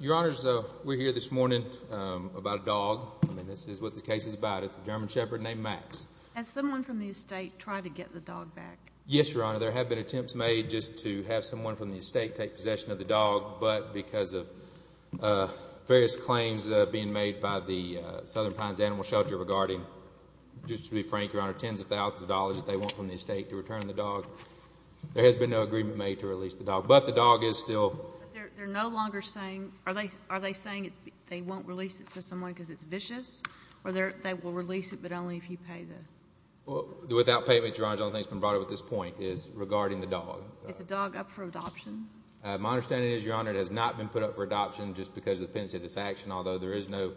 Your Honors, we're here this morning about a dog. I mean, this is what the case is about. It's a German Shepherd named Max. Has someone from the estate tried to get the dog back? Yes, Your Honor. There have been attempts made just to have someone from the estate take possession of the dog, but because of various claims being made by the Southern Pines Animal Shelter regarding, just to be frank, Your Honor, tens of thousands of dollars that they want from the estate to return the dog, there has been no agreement made to release the dog. But the dog is still But they're no longer saying, are they saying they won't release it to someone because it's vicious? Or they will release it, but only if you pay the Without payment, Your Honor, the only thing that's been brought up at this point is regarding the dog. Is the dog up for adoption? My understanding is, Your Honor, it has not been put up for adoption just because of the pendency of this action, although there is no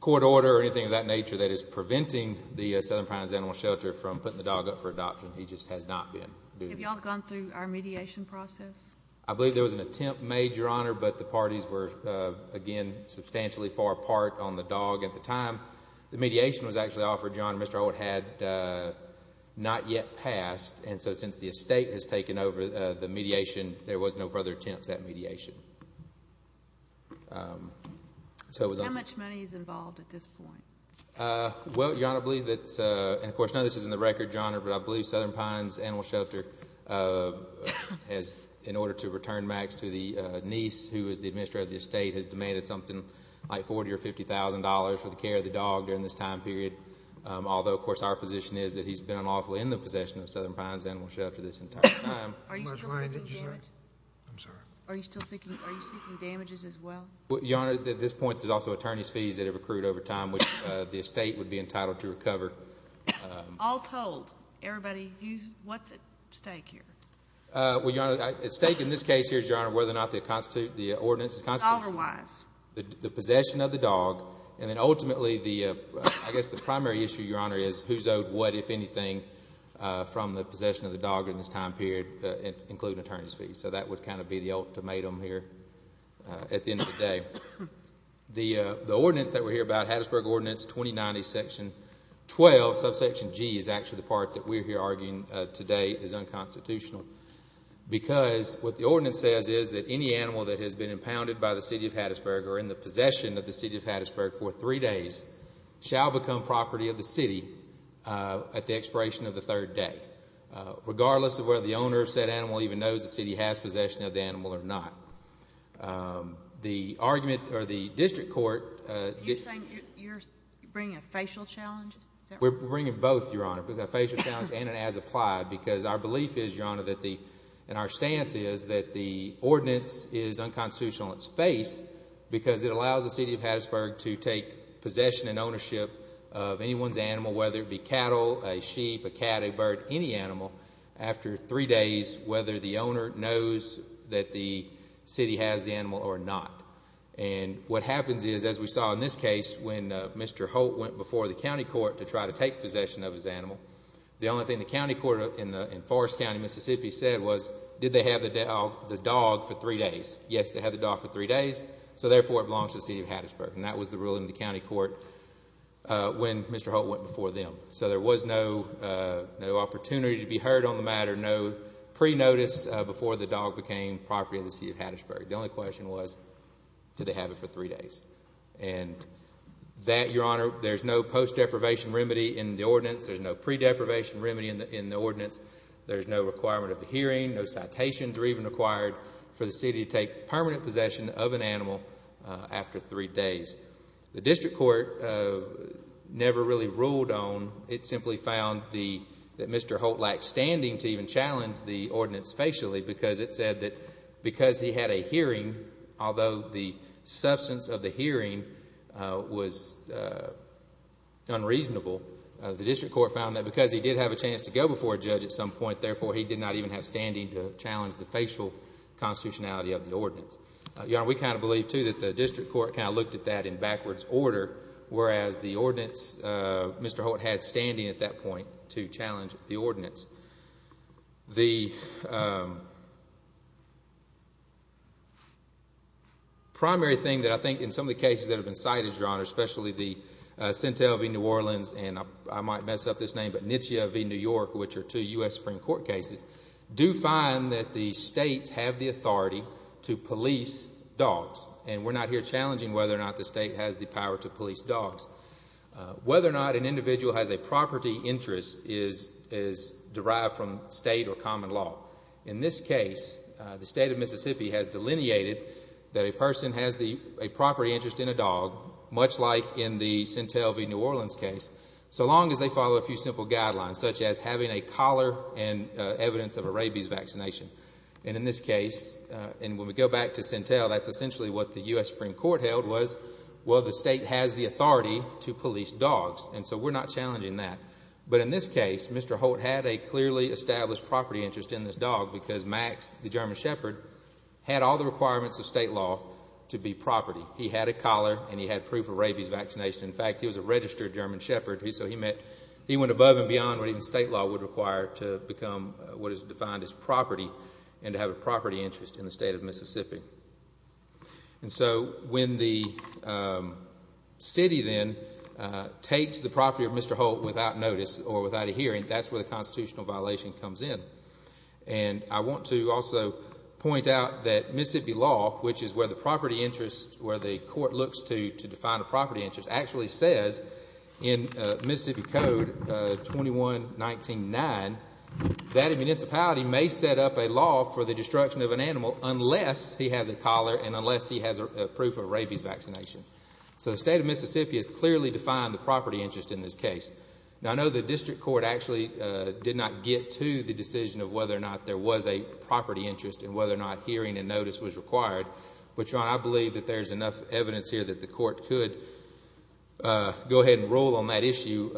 court order or anything of that nature that is preventing the Southern Pines Animal Shelter from putting the dog up for adoption. He just has not been. Have you all gone through our mediation process? I believe there was an attempt made, Your Honor, but the parties were, again, substantially far apart on the dog at the time. The mediation was actually offered, Your Honor. Mr. Owett had not yet passed, and so since the estate has taken over the mediation, there was no further attempts at mediation. How much money is involved at this point? Well, Your Honor, I believe that's, and, of course, none of this is in the record, Your Honor, but I believe Southern Pines Animal Shelter has, in order to return Max to the niece who is the administrator of the estate, has demanded something like $40,000 or $50,000 for the care of the dog during this time period, although, of course, our position is that he's been unlawfully in the possession of Southern Pines Animal Shelter this entire time. Are you still seeking damages as well? Your Honor, at this point, there's also attorney's fees that have accrued over time, which the estate would be entitled to recover. All told, everybody, what's at stake here? Well, Your Honor, at stake in this case here is, Your Honor, whether or not the ordinance constitutes the possession of the dog, and then ultimately, I guess the primary issue, Your Honor, is who's owed what, if anything, from the possession of the dog during this time period, including attorney's fees. So that would kind of be the ultimatum here at the end of the day. The ordinance that we're here about, Hattiesburg Ordinance 2090, Section 12, subsection G, is actually the part that we're here arguing today is unconstitutional because what the ordinance says is that any animal that has been impounded by the City of Hattiesburg or in the possession of the City of Hattiesburg for three days shall become property of the city at the expiration of the third day, regardless of whether the owner of said animal even knows the city has possession of the animal or not. The argument, or the district court. Are you saying you're bringing a facial challenge? We're bringing both, Your Honor, a facial challenge and an as-applied, because our belief is, Your Honor, and our stance is that the ordinance is unconstitutional in its face because it allows the City of Hattiesburg to take possession and ownership of anyone's animal, whether it be cattle, a sheep, a cat, a bird, any animal, after three days, whether the owner knows that the city has the animal or not. And what happens is, as we saw in this case, when Mr. Holt went before the county court to try to take possession of his animal, the only thing the county court in Forest County, Mississippi, said was, did they have the dog for three days? Yes, they had the dog for three days, so therefore it belongs to the City of Hattiesburg. And that was the rule in the county court when Mr. Holt went before them. So there was no opportunity to be heard on the matter, no pre-notice before the dog became property of the City of Hattiesburg. The only question was, did they have it for three days? And that, Your Honor, there's no post-deprivation remedy in the ordinance. There's no pre-deprivation remedy in the ordinance. There's no requirement of a hearing. No citations are even required for the city to take permanent possession of an animal after three days. The district court never really ruled on, it simply found that Mr. Holt lacked standing to even challenge the ordinance facially because it said that because he had a hearing, although the substance of the hearing was unreasonable, the district court found that because he did have a chance to go before a judge at some point, therefore he did not even have standing to challenge the facial constitutionality of the ordinance. Your Honor, we kind of believe, too, that the district court kind of looked at that in backwards order, whereas the ordinance, Mr. Holt had standing at that point to challenge the ordinance. The primary thing that I think in some of the cases that have been cited, Your Honor, especially the Centel v. New Orleans, and I might mess up this name, but Nitschia v. New York, which are two U.S. Supreme Court cases, do find that the states have the authority to police dogs, and we're not here challenging whether or not the state has the power to police dogs. Whether or not an individual has a property interest is derived from state or common law. In this case, the state of Mississippi has delineated that a person has a property interest in a dog, much like in the Centel v. New Orleans case, so long as they follow a few simple guidelines, such as having a collar and evidence of a rabies vaccination. And in this case, and when we go back to Centel, that's essentially what the U.S. Supreme Court held was, well, the state has the authority to police dogs, and so we're not challenging that. But in this case, Mr. Holt had a clearly established property interest in this dog because Max, the German Shepherd, had all the requirements of state law to be property. He had a collar and he had proof of rabies vaccination. In fact, he was a registered German Shepherd, so he went above and beyond what even state law would require to become what is defined as property and to have a property interest in the state of Mississippi. And so when the city then takes the property of Mr. Holt without notice or without a hearing, that's where the constitutional violation comes in. And I want to also point out that Mississippi law, which is where the property interest, where the court looks to define a property interest, actually says in Mississippi Code 2199 that a municipality may set up a law for the destruction of an animal unless he has a collar and unless he has proof of rabies vaccination. So the state of Mississippi has clearly defined the property interest in this case. Now, I know the district court actually did not get to the decision of whether or not there was a property interest and whether or not hearing and notice was required, but, John, I believe that there's enough evidence here that the court could go ahead and rule on that issue,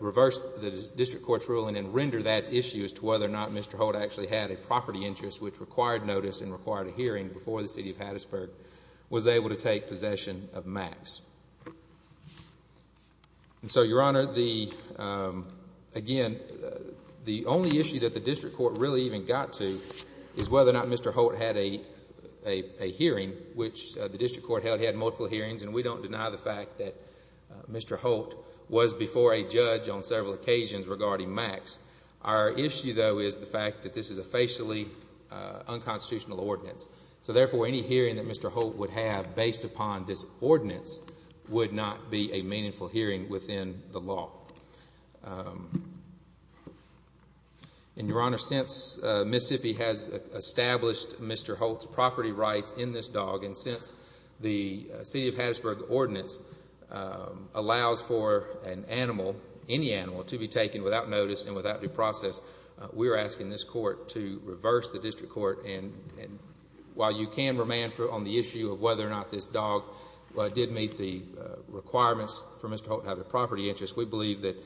reverse the district court's ruling and render that issue as to whether or not Mr. Holt actually had a property interest, which required notice and required a hearing before the city of Hattiesburg was able to take possession of Max. And so, Your Honor, again, the only issue that the district court really even got to is whether or not Mr. Holt had a hearing, which the district court held he had multiple hearings, and we don't deny the fact that Mr. Holt was before a judge on several occasions regarding Max. Our issue, though, is the fact that this is a facially unconstitutional ordinance. So, therefore, any hearing that Mr. Holt would have based upon this ordinance would not be a meaningful hearing within the law. And, Your Honor, since Mississippi has established Mr. Holt's property rights in this dog and since the city of Hattiesburg ordinance allows for an animal, any animal, to be taken without notice and without due process, we are asking this court to reverse the district court. And while you can remand on the issue of whether or not this dog did meet the requirements for Mr. Holt to have a property interest, we believe that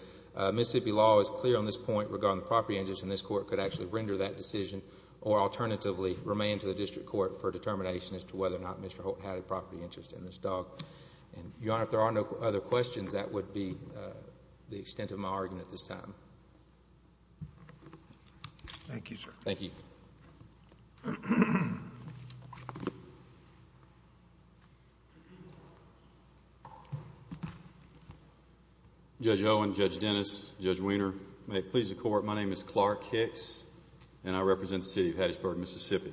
Mississippi law is clear on this point regarding the property interest, and this court could actually render that decision or alternatively remand to the district court for determination as to whether or not Mr. Holt had a property interest in this dog. And, Your Honor, if there are no other questions, that would be the extent of my argument at this time. Thank you, sir. Thank you. Judge Owen, Judge Dennis, Judge Weiner, may it please the Court, my name is Clark Hicks and I represent the city of Hattiesburg, Mississippi.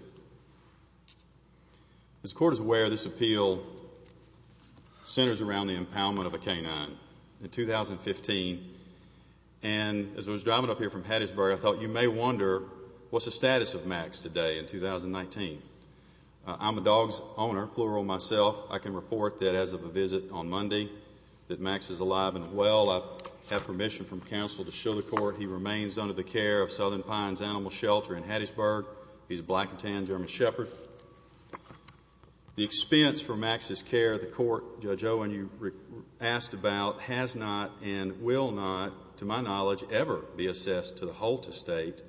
As the Court is aware, this appeal centers around the empowerment of a canine in 2015, and as I was driving up here from Hattiesburg, I thought you may wonder what's the status of Max today in 2019. I'm a dog's owner, plural myself. I can report that as of a visit on Monday that Max is alive and well. I have permission from counsel to show the Court he remains under the care of Southern Pines Animal Shelter in Hattiesburg. He's a black and tan German Shepherd. The expense for Max's care, the Court, Judge Owen, you asked about, has not and will not, to my knowledge, ever be assessed to the Holt Estate.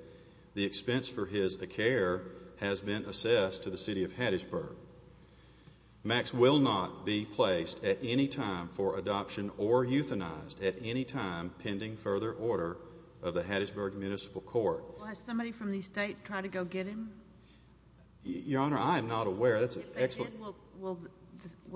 The expense for his care has been assessed to the city of Hattiesburg. Max will not be placed at any time for adoption or euthanized at any time pending further order of the Hattiesburg Municipal Court. Has somebody from the estate tried to go get him? Your Honor, I am not aware. If they did, will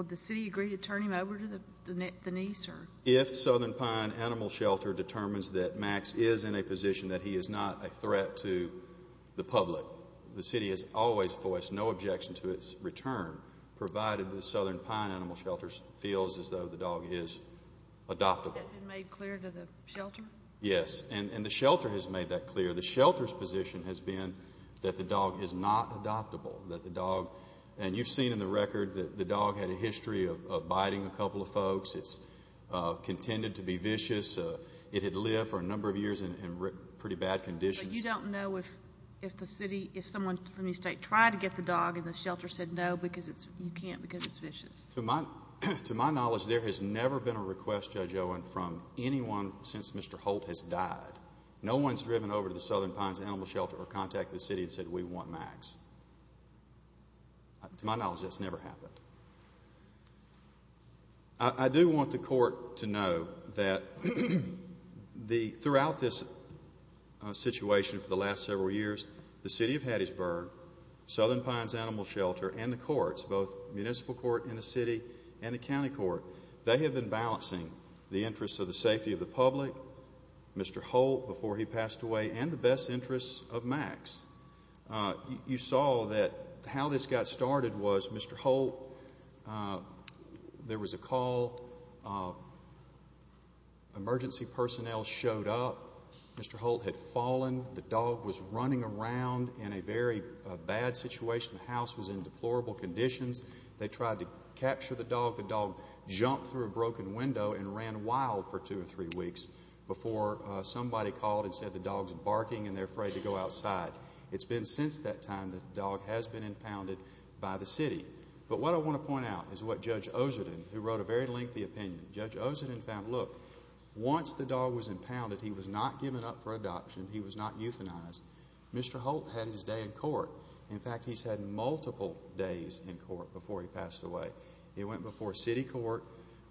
the city agree to turn him over to the niece? If Southern Pine Animal Shelter determines that Max is in a position that he is not a threat to the public, the city has always voiced no objection to its return, provided the Southern Pine Animal Shelter feels as though the dog is adoptable. Has that been made clear to the shelter? Yes, and the shelter has made that clear. The shelter's position has been that the dog is not adoptable, that the dog, and you've seen in the record that the dog had a history of biting a couple of folks. It's contended to be vicious. It had lived for a number of years in pretty bad conditions. But you don't know if the city, if someone from the estate tried to get the dog and the shelter said no because you can't because it's vicious. To my knowledge, there has never been a request, Judge Owen, from anyone since Mr. Holt has died. No one's driven over to the Southern Pines Animal Shelter or contacted the city and said we want Max. To my knowledge, that's never happened. I do want the court to know that throughout this situation for the last several years, the city of Hattiesburg, Southern Pines Animal Shelter, and the courts, both municipal court in the city and the county court, they have been balancing the interests of the safety of the public, Mr. Holt before he passed away, and the best interests of Max. You saw that how this got started was Mr. Holt, there was a call, emergency personnel showed up. Mr. Holt had fallen. The dog was running around in a very bad situation. The house was in deplorable conditions. They tried to capture the dog. They let the dog jump through a broken window and ran wild for two or three weeks before somebody called and said the dog's barking and they're afraid to go outside. It's been since that time the dog has been impounded by the city. But what I want to point out is what Judge Oseden, who wrote a very lengthy opinion, Judge Oseden found, look, once the dog was impounded, he was not given up for adoption. He was not euthanized. Mr. Holt had his day in court. In fact, he's had multiple days in court before he passed away. It went before city court,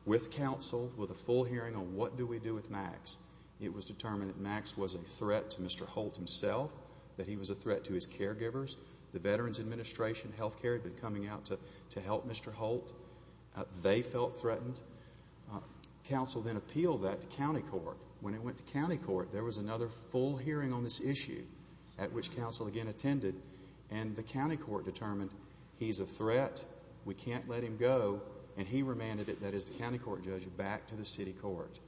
with council, with a full hearing on what do we do with Max. It was determined that Max was a threat to Mr. Holt himself, that he was a threat to his caregivers. The Veterans Administration Healthcare had been coming out to help Mr. Holt. They felt threatened. Council then appealed that to county court. When it went to county court, there was another full hearing on this issue, at which council again attended, and the county court determined he's a threat, we can't let him go, and he remanded it, that is the county court judge, back to the city court.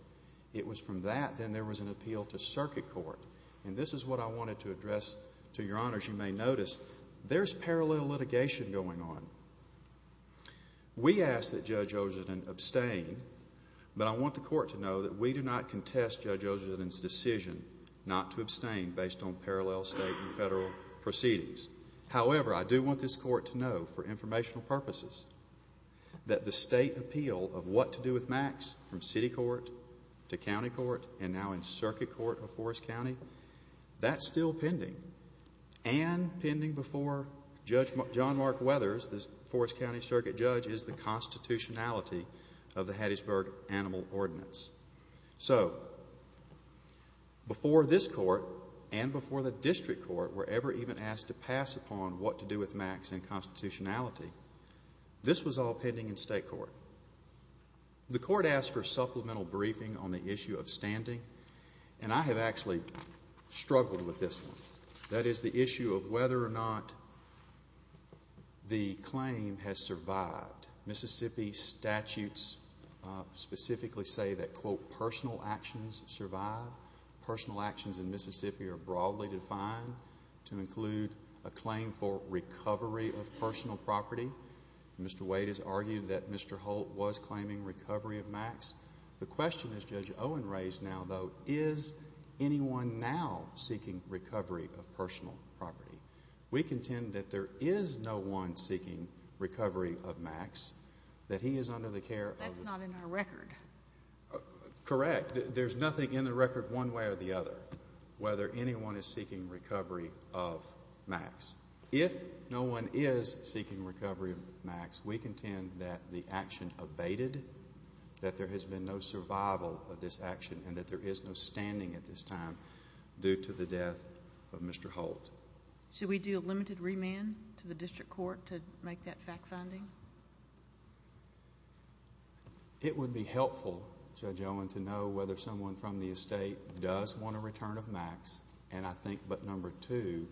It was from that then there was an appeal to circuit court, and this is what I wanted to address to your honors. You may notice there's parallel litigation going on. We ask that Judge Oseden abstain, but I want the court to know that we do not contest Judge Oseden's decision not to abstain based on parallel state and federal proceedings. However, I do want this court to know, for informational purposes, that the state appeal of what to do with Max from city court to county court and now in circuit court of Forest County, that's still pending, and pending before Judge John Mark Weathers, the Forest County Circuit Judge, is the constitutionality of the Hattiesburg Animal Ordinance. So before this court and before the district court were ever even asked to pass upon what to do with Max in constitutionality, this was all pending in state court. The court asked for supplemental briefing on the issue of standing, and I have actually struggled with this one. That is the issue of whether or not the claim has survived. Mississippi statutes specifically say that, quote, personal actions survive. Personal actions in Mississippi are broadly defined to include a claim for recovery of personal property. Mr. Wade has argued that Mr. Holt was claiming recovery of Max. The question that Judge Owen raised now, though, is anyone now seeking recovery of personal property? We contend that there is no one seeking recovery of Max, that he is under the care of the That's not in our record. Correct. There's nothing in the record one way or the other, whether anyone is seeking recovery of Max. If no one is seeking recovery of Max, we contend that the action abated, that there has been no survival of this action, and that there is no standing at this time due to the death of Mr. Holt. Should we do a limited remand to the district court to make that fact-finding? It would be helpful, Judge Owen, to know whether someone from the estate does want a return of Max, but number two,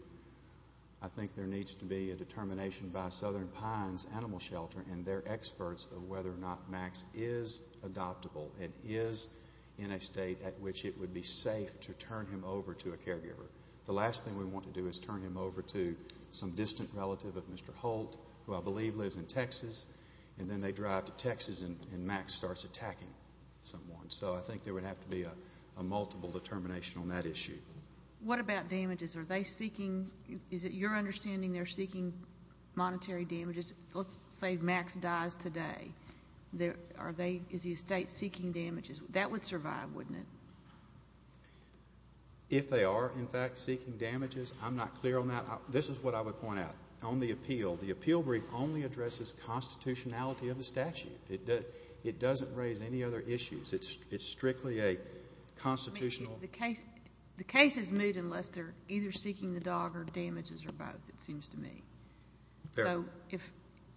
I think there needs to be a determination by Southern Pines Animal Shelter and their experts of whether or not Max is adoptable and is in a state at which it would be safe to turn him over to a caregiver. The last thing we want to do is turn him over to some distant relative of Mr. Holt, who I believe lives in Texas, and then they drive to Texas and Max starts attacking someone. So I think there would have to be a multiple determination on that issue. What about damages? Are they seeking, is it your understanding they're seeking monetary damages? Let's say Max dies today. Is the estate seeking damages? That would survive, wouldn't it? If they are, in fact, seeking damages, I'm not clear on that. This is what I would point out. On the appeal, the appeal brief only addresses constitutionality of the statute. It doesn't raise any other issues. It's strictly a constitutional. The case is moved unless they're either seeking the dog or damages or both, it seems to me. So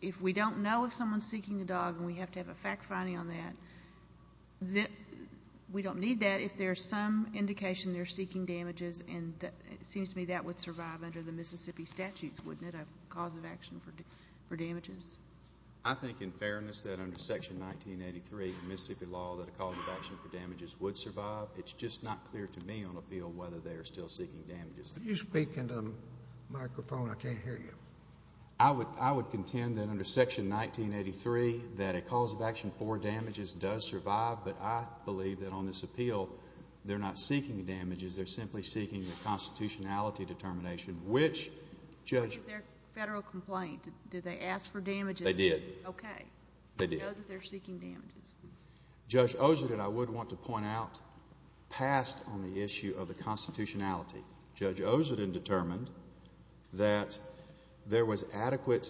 if we don't know if someone's seeking the dog and we have to have a fact finding on that, we don't need that. If there's some indication they're seeking damages, and it seems to me that would survive under the Mississippi statutes, wouldn't it, a cause of action for damages? I think in fairness that under Section 1983 of Mississippi law that a cause of action for damages would survive. It's just not clear to me on appeal whether they're still seeking damages. Could you speak into the microphone? I can't hear you. I would contend that under Section 1983 that a cause of action for damages does survive, but I believe that on this appeal they're not seeking damages. They're simply seeking the constitutionality determination, which, Judge... It's their federal complaint. Did they ask for damages? They did. Okay. They did. They know that they're seeking damages. Judge Oserden, I would want to point out, passed on the issue of the constitutionality. Judge Oserden determined that there was an adequate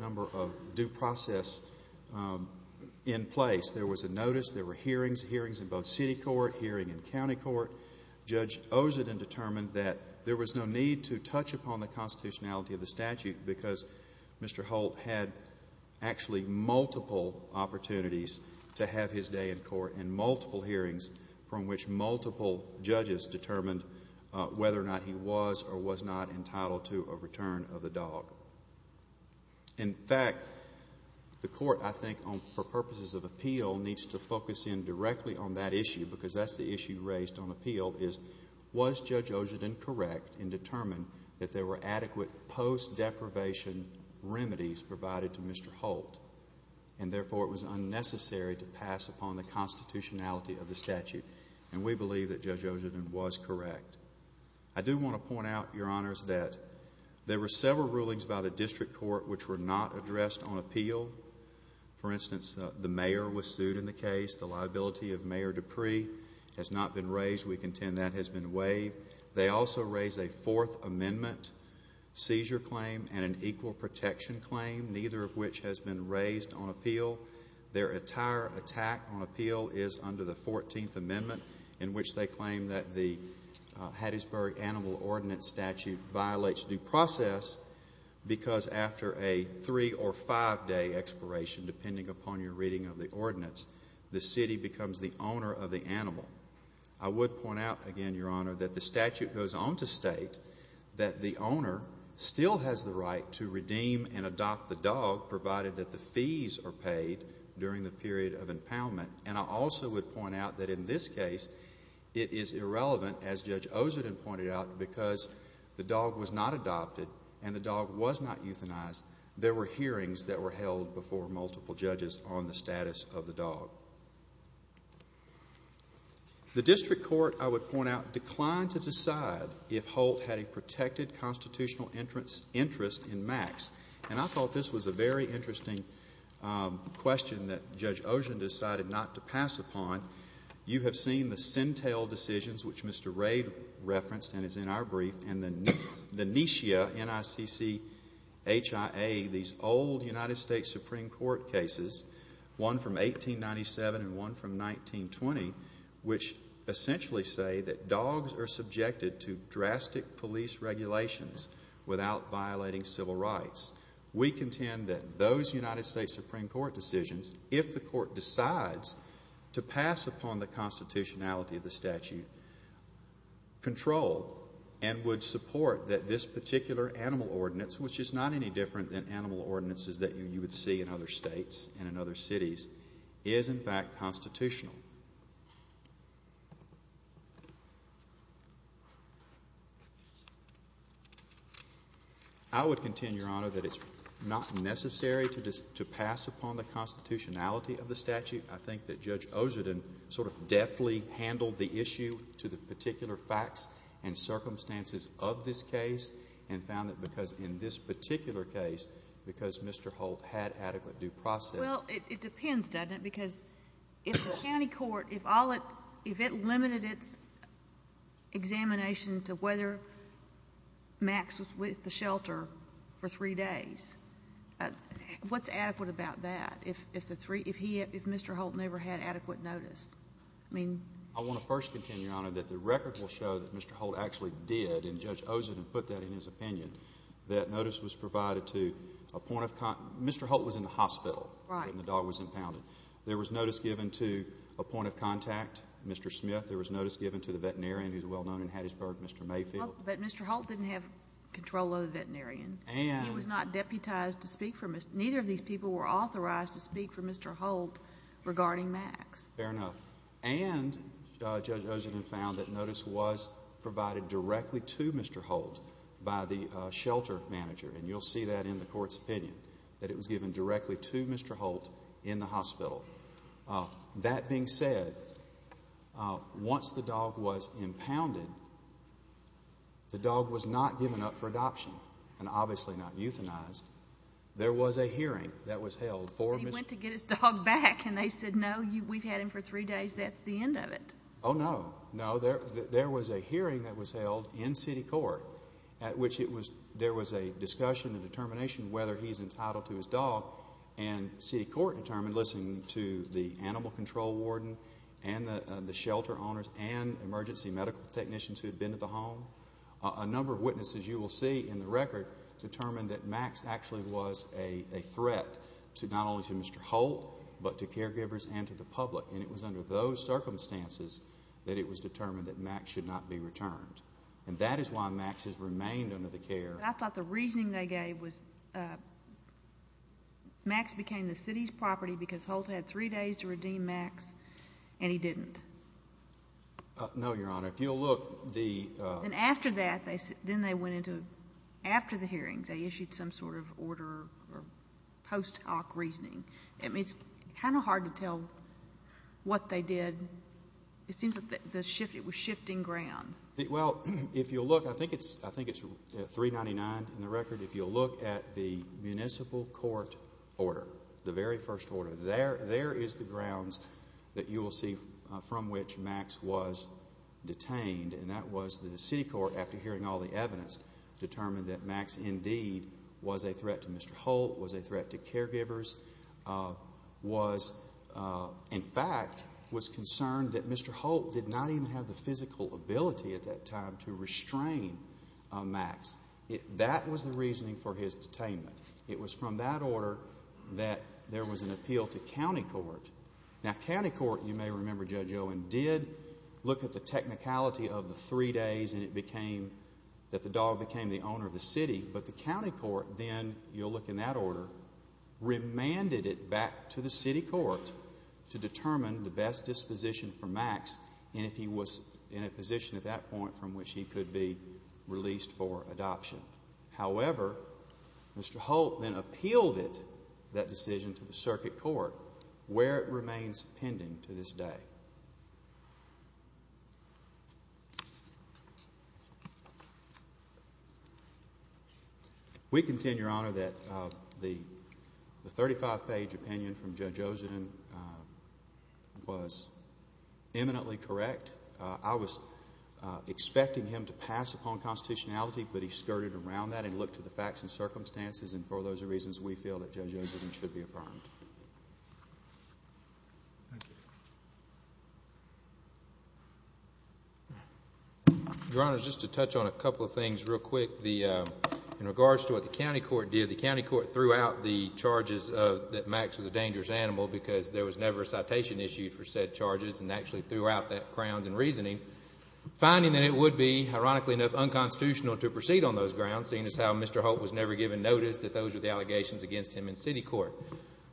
number of due process in place. There was a notice. There were hearings, hearings in both city court, hearing in county court. Judge Oserden determined that there was no need to touch upon the constitutionality of the statute because Mr. Holt had actually multiple opportunities to have his day in court and multiple hearings from which multiple judges determined whether or not he was or was not entitled to a return of the dog. In fact, the court, I think, for purposes of appeal needs to focus in directly on that issue because that's the issue raised on appeal is, was Judge Oserden correct in determining that there were adequate post-deprivation remedies provided to Mr. Holt and, therefore, it was unnecessary to pass upon the constitutionality of the statute? And we believe that Judge Oserden was correct. I do want to point out, Your Honors, that there were several rulings by the district court which were not addressed on appeal. For instance, the mayor was sued in the case. The liability of Mayor Dupree has not been raised. We contend that has been waived. They also raised a Fourth Amendment seizure claim and an equal protection claim, neither of which has been raised on appeal. Their entire attack on appeal is under the Fourteenth Amendment in which they claim that the Hattiesburg Animal Ordinance Statute violates due process because after a three- or five-day expiration, depending upon your reading of the ordinance, the city becomes the owner of the animal. I would point out again, Your Honor, that the statute goes on to state that the owner still has the right to redeem and adopt the dog provided that the fees are paid during the period of impoundment. And I also would point out that in this case it is irrelevant, as Judge Oserden pointed out, because the dog was not adopted and the dog was not euthanized. There were hearings that were held before multiple judges on the status of the dog. The district court, I would point out, declined to decide if Holt had a protected constitutional interest in Max. And I thought this was a very interesting question that Judge Oserden decided not to pass upon. You have seen the Sentel decisions, which Mr. Rade referenced and is in our brief, and the Nishia, N-I-C-C-H-I-A, these old United States Supreme Court cases, one from 1897 and one from 1920, which essentially say that dogs are subjected to drastic police regulations without violating civil rights. We contend that those United States Supreme Court decisions, if the court decides to pass upon the constitutionality of the statute, control and would support that this particular animal ordinance, which is not any different than animal ordinances that you would see in other states and in other cities, is, in fact, constitutional. I would contend, Your Honor, that it's not necessary to pass upon the constitutionality of the statute. I think that Judge Oserden sort of deftly handled the issue to the particular facts and circumstances of this case and found that because in this particular case, because Mr. Holt had adequate due process. Well, it depends, doesn't it? Because if the county court, if it limited its examination to whether Max was with the shelter for three days, what's adequate about that if Mr. Holt never had adequate notice? I want to first contend, Your Honor, that the record will show that Mr. Holt actually did, and Judge Oserden put that in his opinion, that notice was provided to a point of contact. Mr. Holt was in the hospital when the dog was impounded. There was notice given to a point of contact, Mr. Smith. There was notice given to the veterinarian who's well-known in Hattiesburg, Mr. Mayfield. But Mr. Holt didn't have control of the veterinarian. He was not deputized to speak for Mr. Holt. Neither of these people were authorized to speak for Mr. Holt regarding Max. Fair enough. And Judge Oserden found that notice was provided directly to Mr. Holt by the shelter manager, and you'll see that in the court's opinion, that it was given directly to Mr. Holt in the hospital. That being said, once the dog was impounded, the dog was not given up for adoption and obviously not euthanized. There was a hearing that was held for Mr. Holt. And they said, no, we've had him for three days, that's the end of it. Oh, no. No, there was a hearing that was held in city court at which there was a discussion and determination whether he's entitled to his dog, and city court determined listening to the animal control warden and the shelter owners and emergency medical technicians who had been at the home, a number of witnesses you will see in the record determined that Max actually was a threat to not only to Mr. Holt but to caregivers and to the public. And it was under those circumstances that it was determined that Max should not be returned. And that is why Max has remained under the care. I thought the reasoning they gave was Max became the city's property because Holt had three days to redeem Max, and he didn't. No, Your Honor. If you'll look, the – And after that, then they went into, after the hearing, they issued some sort of order or post hoc reasoning. I mean, it's kind of hard to tell what they did. It seems like it was shifting ground. Well, if you'll look, I think it's 399 in the record. If you'll look at the municipal court order, the very first order, there is the grounds that you will see from which Max was detained, and that was that the city court, after hearing all the evidence, determined that Max indeed was a threat to Mr. Holt, was a threat to caregivers, was in fact was concerned that Mr. Holt did not even have the physical ability at that time to restrain Max. That was the reasoning for his detainment. It was from that order that there was an appeal to county court. Now, county court, you may remember, Judge Owen, did look at the technicality of the three days and it became that the dog became the owner of the city, but the county court then, you'll look in that order, remanded it back to the city court to determine the best disposition for Max and if he was in a position at that point from which he could be released for adoption. However, Mr. Holt then appealed it, that decision, to the circuit court where it remains pending to this day. We contend, Your Honor, that the 35-page opinion from Judge Osedin was eminently correct. I was expecting him to pass upon constitutionality, but he skirted around that and looked to the facts and circumstances and for those reasons we feel that Judge Osedin should be affirmed. Thank you. Your Honor, just to touch on a couple of things real quick. In regards to what the county court did, the county court threw out the charges that Max was a dangerous animal because there was never a citation issued for said charges and actually threw out that crowns and reasoning, finding that it would be, ironically enough, unconstitutional to proceed on those grounds, seeing as how Mr. Holt was never given notice that those were the allegations against him in city court.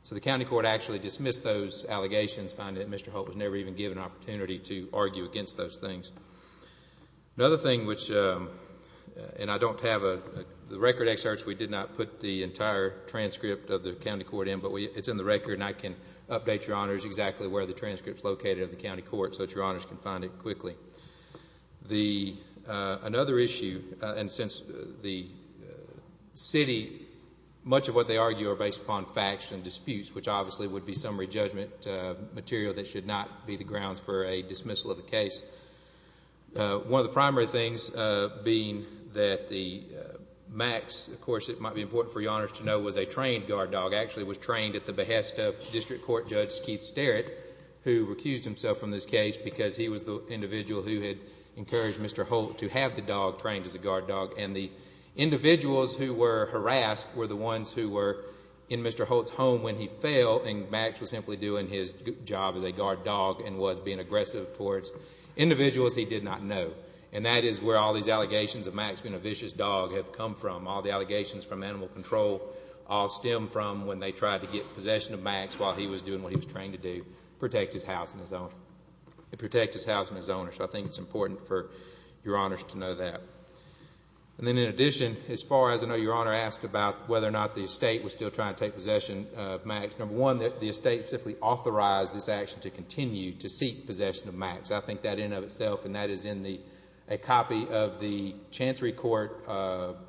So the county court actually dismissed those allegations, finding that Mr. Holt was never even given an opportunity to argue against those things. Another thing which, and I don't have the record excerpts, we did not put the entire transcript of the county court in, but it's in the record and I can update Your Honors exactly where the transcript is located in the county court so that Your Honors can find it quickly. Another issue, and since the city, much of what they argue are based upon facts and disputes, which obviously would be summary judgment material that should not be the grounds for a dismissal of the case. One of the primary things being that Max, of course it might be important for Your Honors to know, was a trained guard dog, actually was trained at the behest of District Court Judge Keith Sterritt, who recused himself from this case because he was the individual who had encouraged Mr. Holt to have the dog trained as a guard dog. And the individuals who were harassed were the ones who were in Mr. Holt's home when he fell and Max was simply doing his job as a guard dog and was being aggressive towards individuals he did not know. And that is where all these allegations of Max being a vicious dog have come from. All the allegations from animal control all stem from when they tried to get possession of Max while he was doing what he was trained to do, protect his house and his owner. So I think it's important for Your Honors to know that. And then in addition, as far as I know, Your Honor asked about whether or not the estate was still trying to take possession of Max. Number one, that the estate simply authorized this action to continue to seek possession of Max. I think that in and of itself, and that is in a copy of the Chancery Court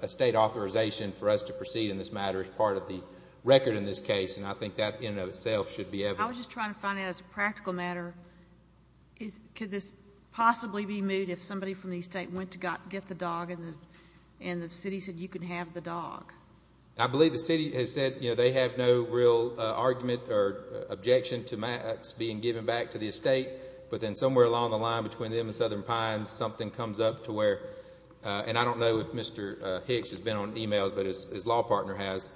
estate authorization for us to proceed in this matter as part of the record in this case, and I think that in and of itself should be evident. I was just trying to find out as a practical matter, could this possibly be moved if somebody from the estate went to get the dog and the city said you can have the dog? I believe the city has said they have no real argument or objection to Max being given back to the estate. But then somewhere along the line between them and Southern Pines, something comes up to where, and I don't know if Mr. Hicks has been on emails, but his law partner has,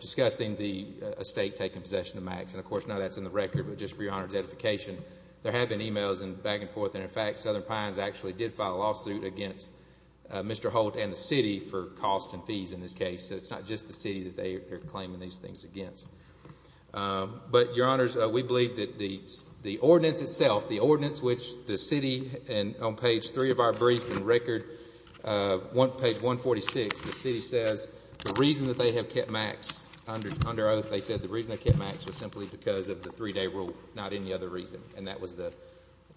discussing the estate taking possession of Max. And, of course, now that's in the record. But just for Your Honor's edification, there have been emails and back and forth. And, in fact, Southern Pines actually did file a lawsuit against Mr. Holt and the city for costs and fees in this case. So it's not just the city that they're claiming these things against. But, Your Honors, we believe that the ordinance itself, the ordinance which the city on page three of our brief and record, page 146, the city says the reason that they have kept Max under oath, they said the reason they kept Max was simply because of the three-day rule, not any other reason. And that was the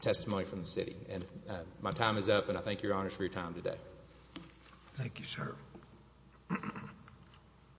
testimony from the city. And my time is up, and I thank Your Honors for your time today. Thank you, sir.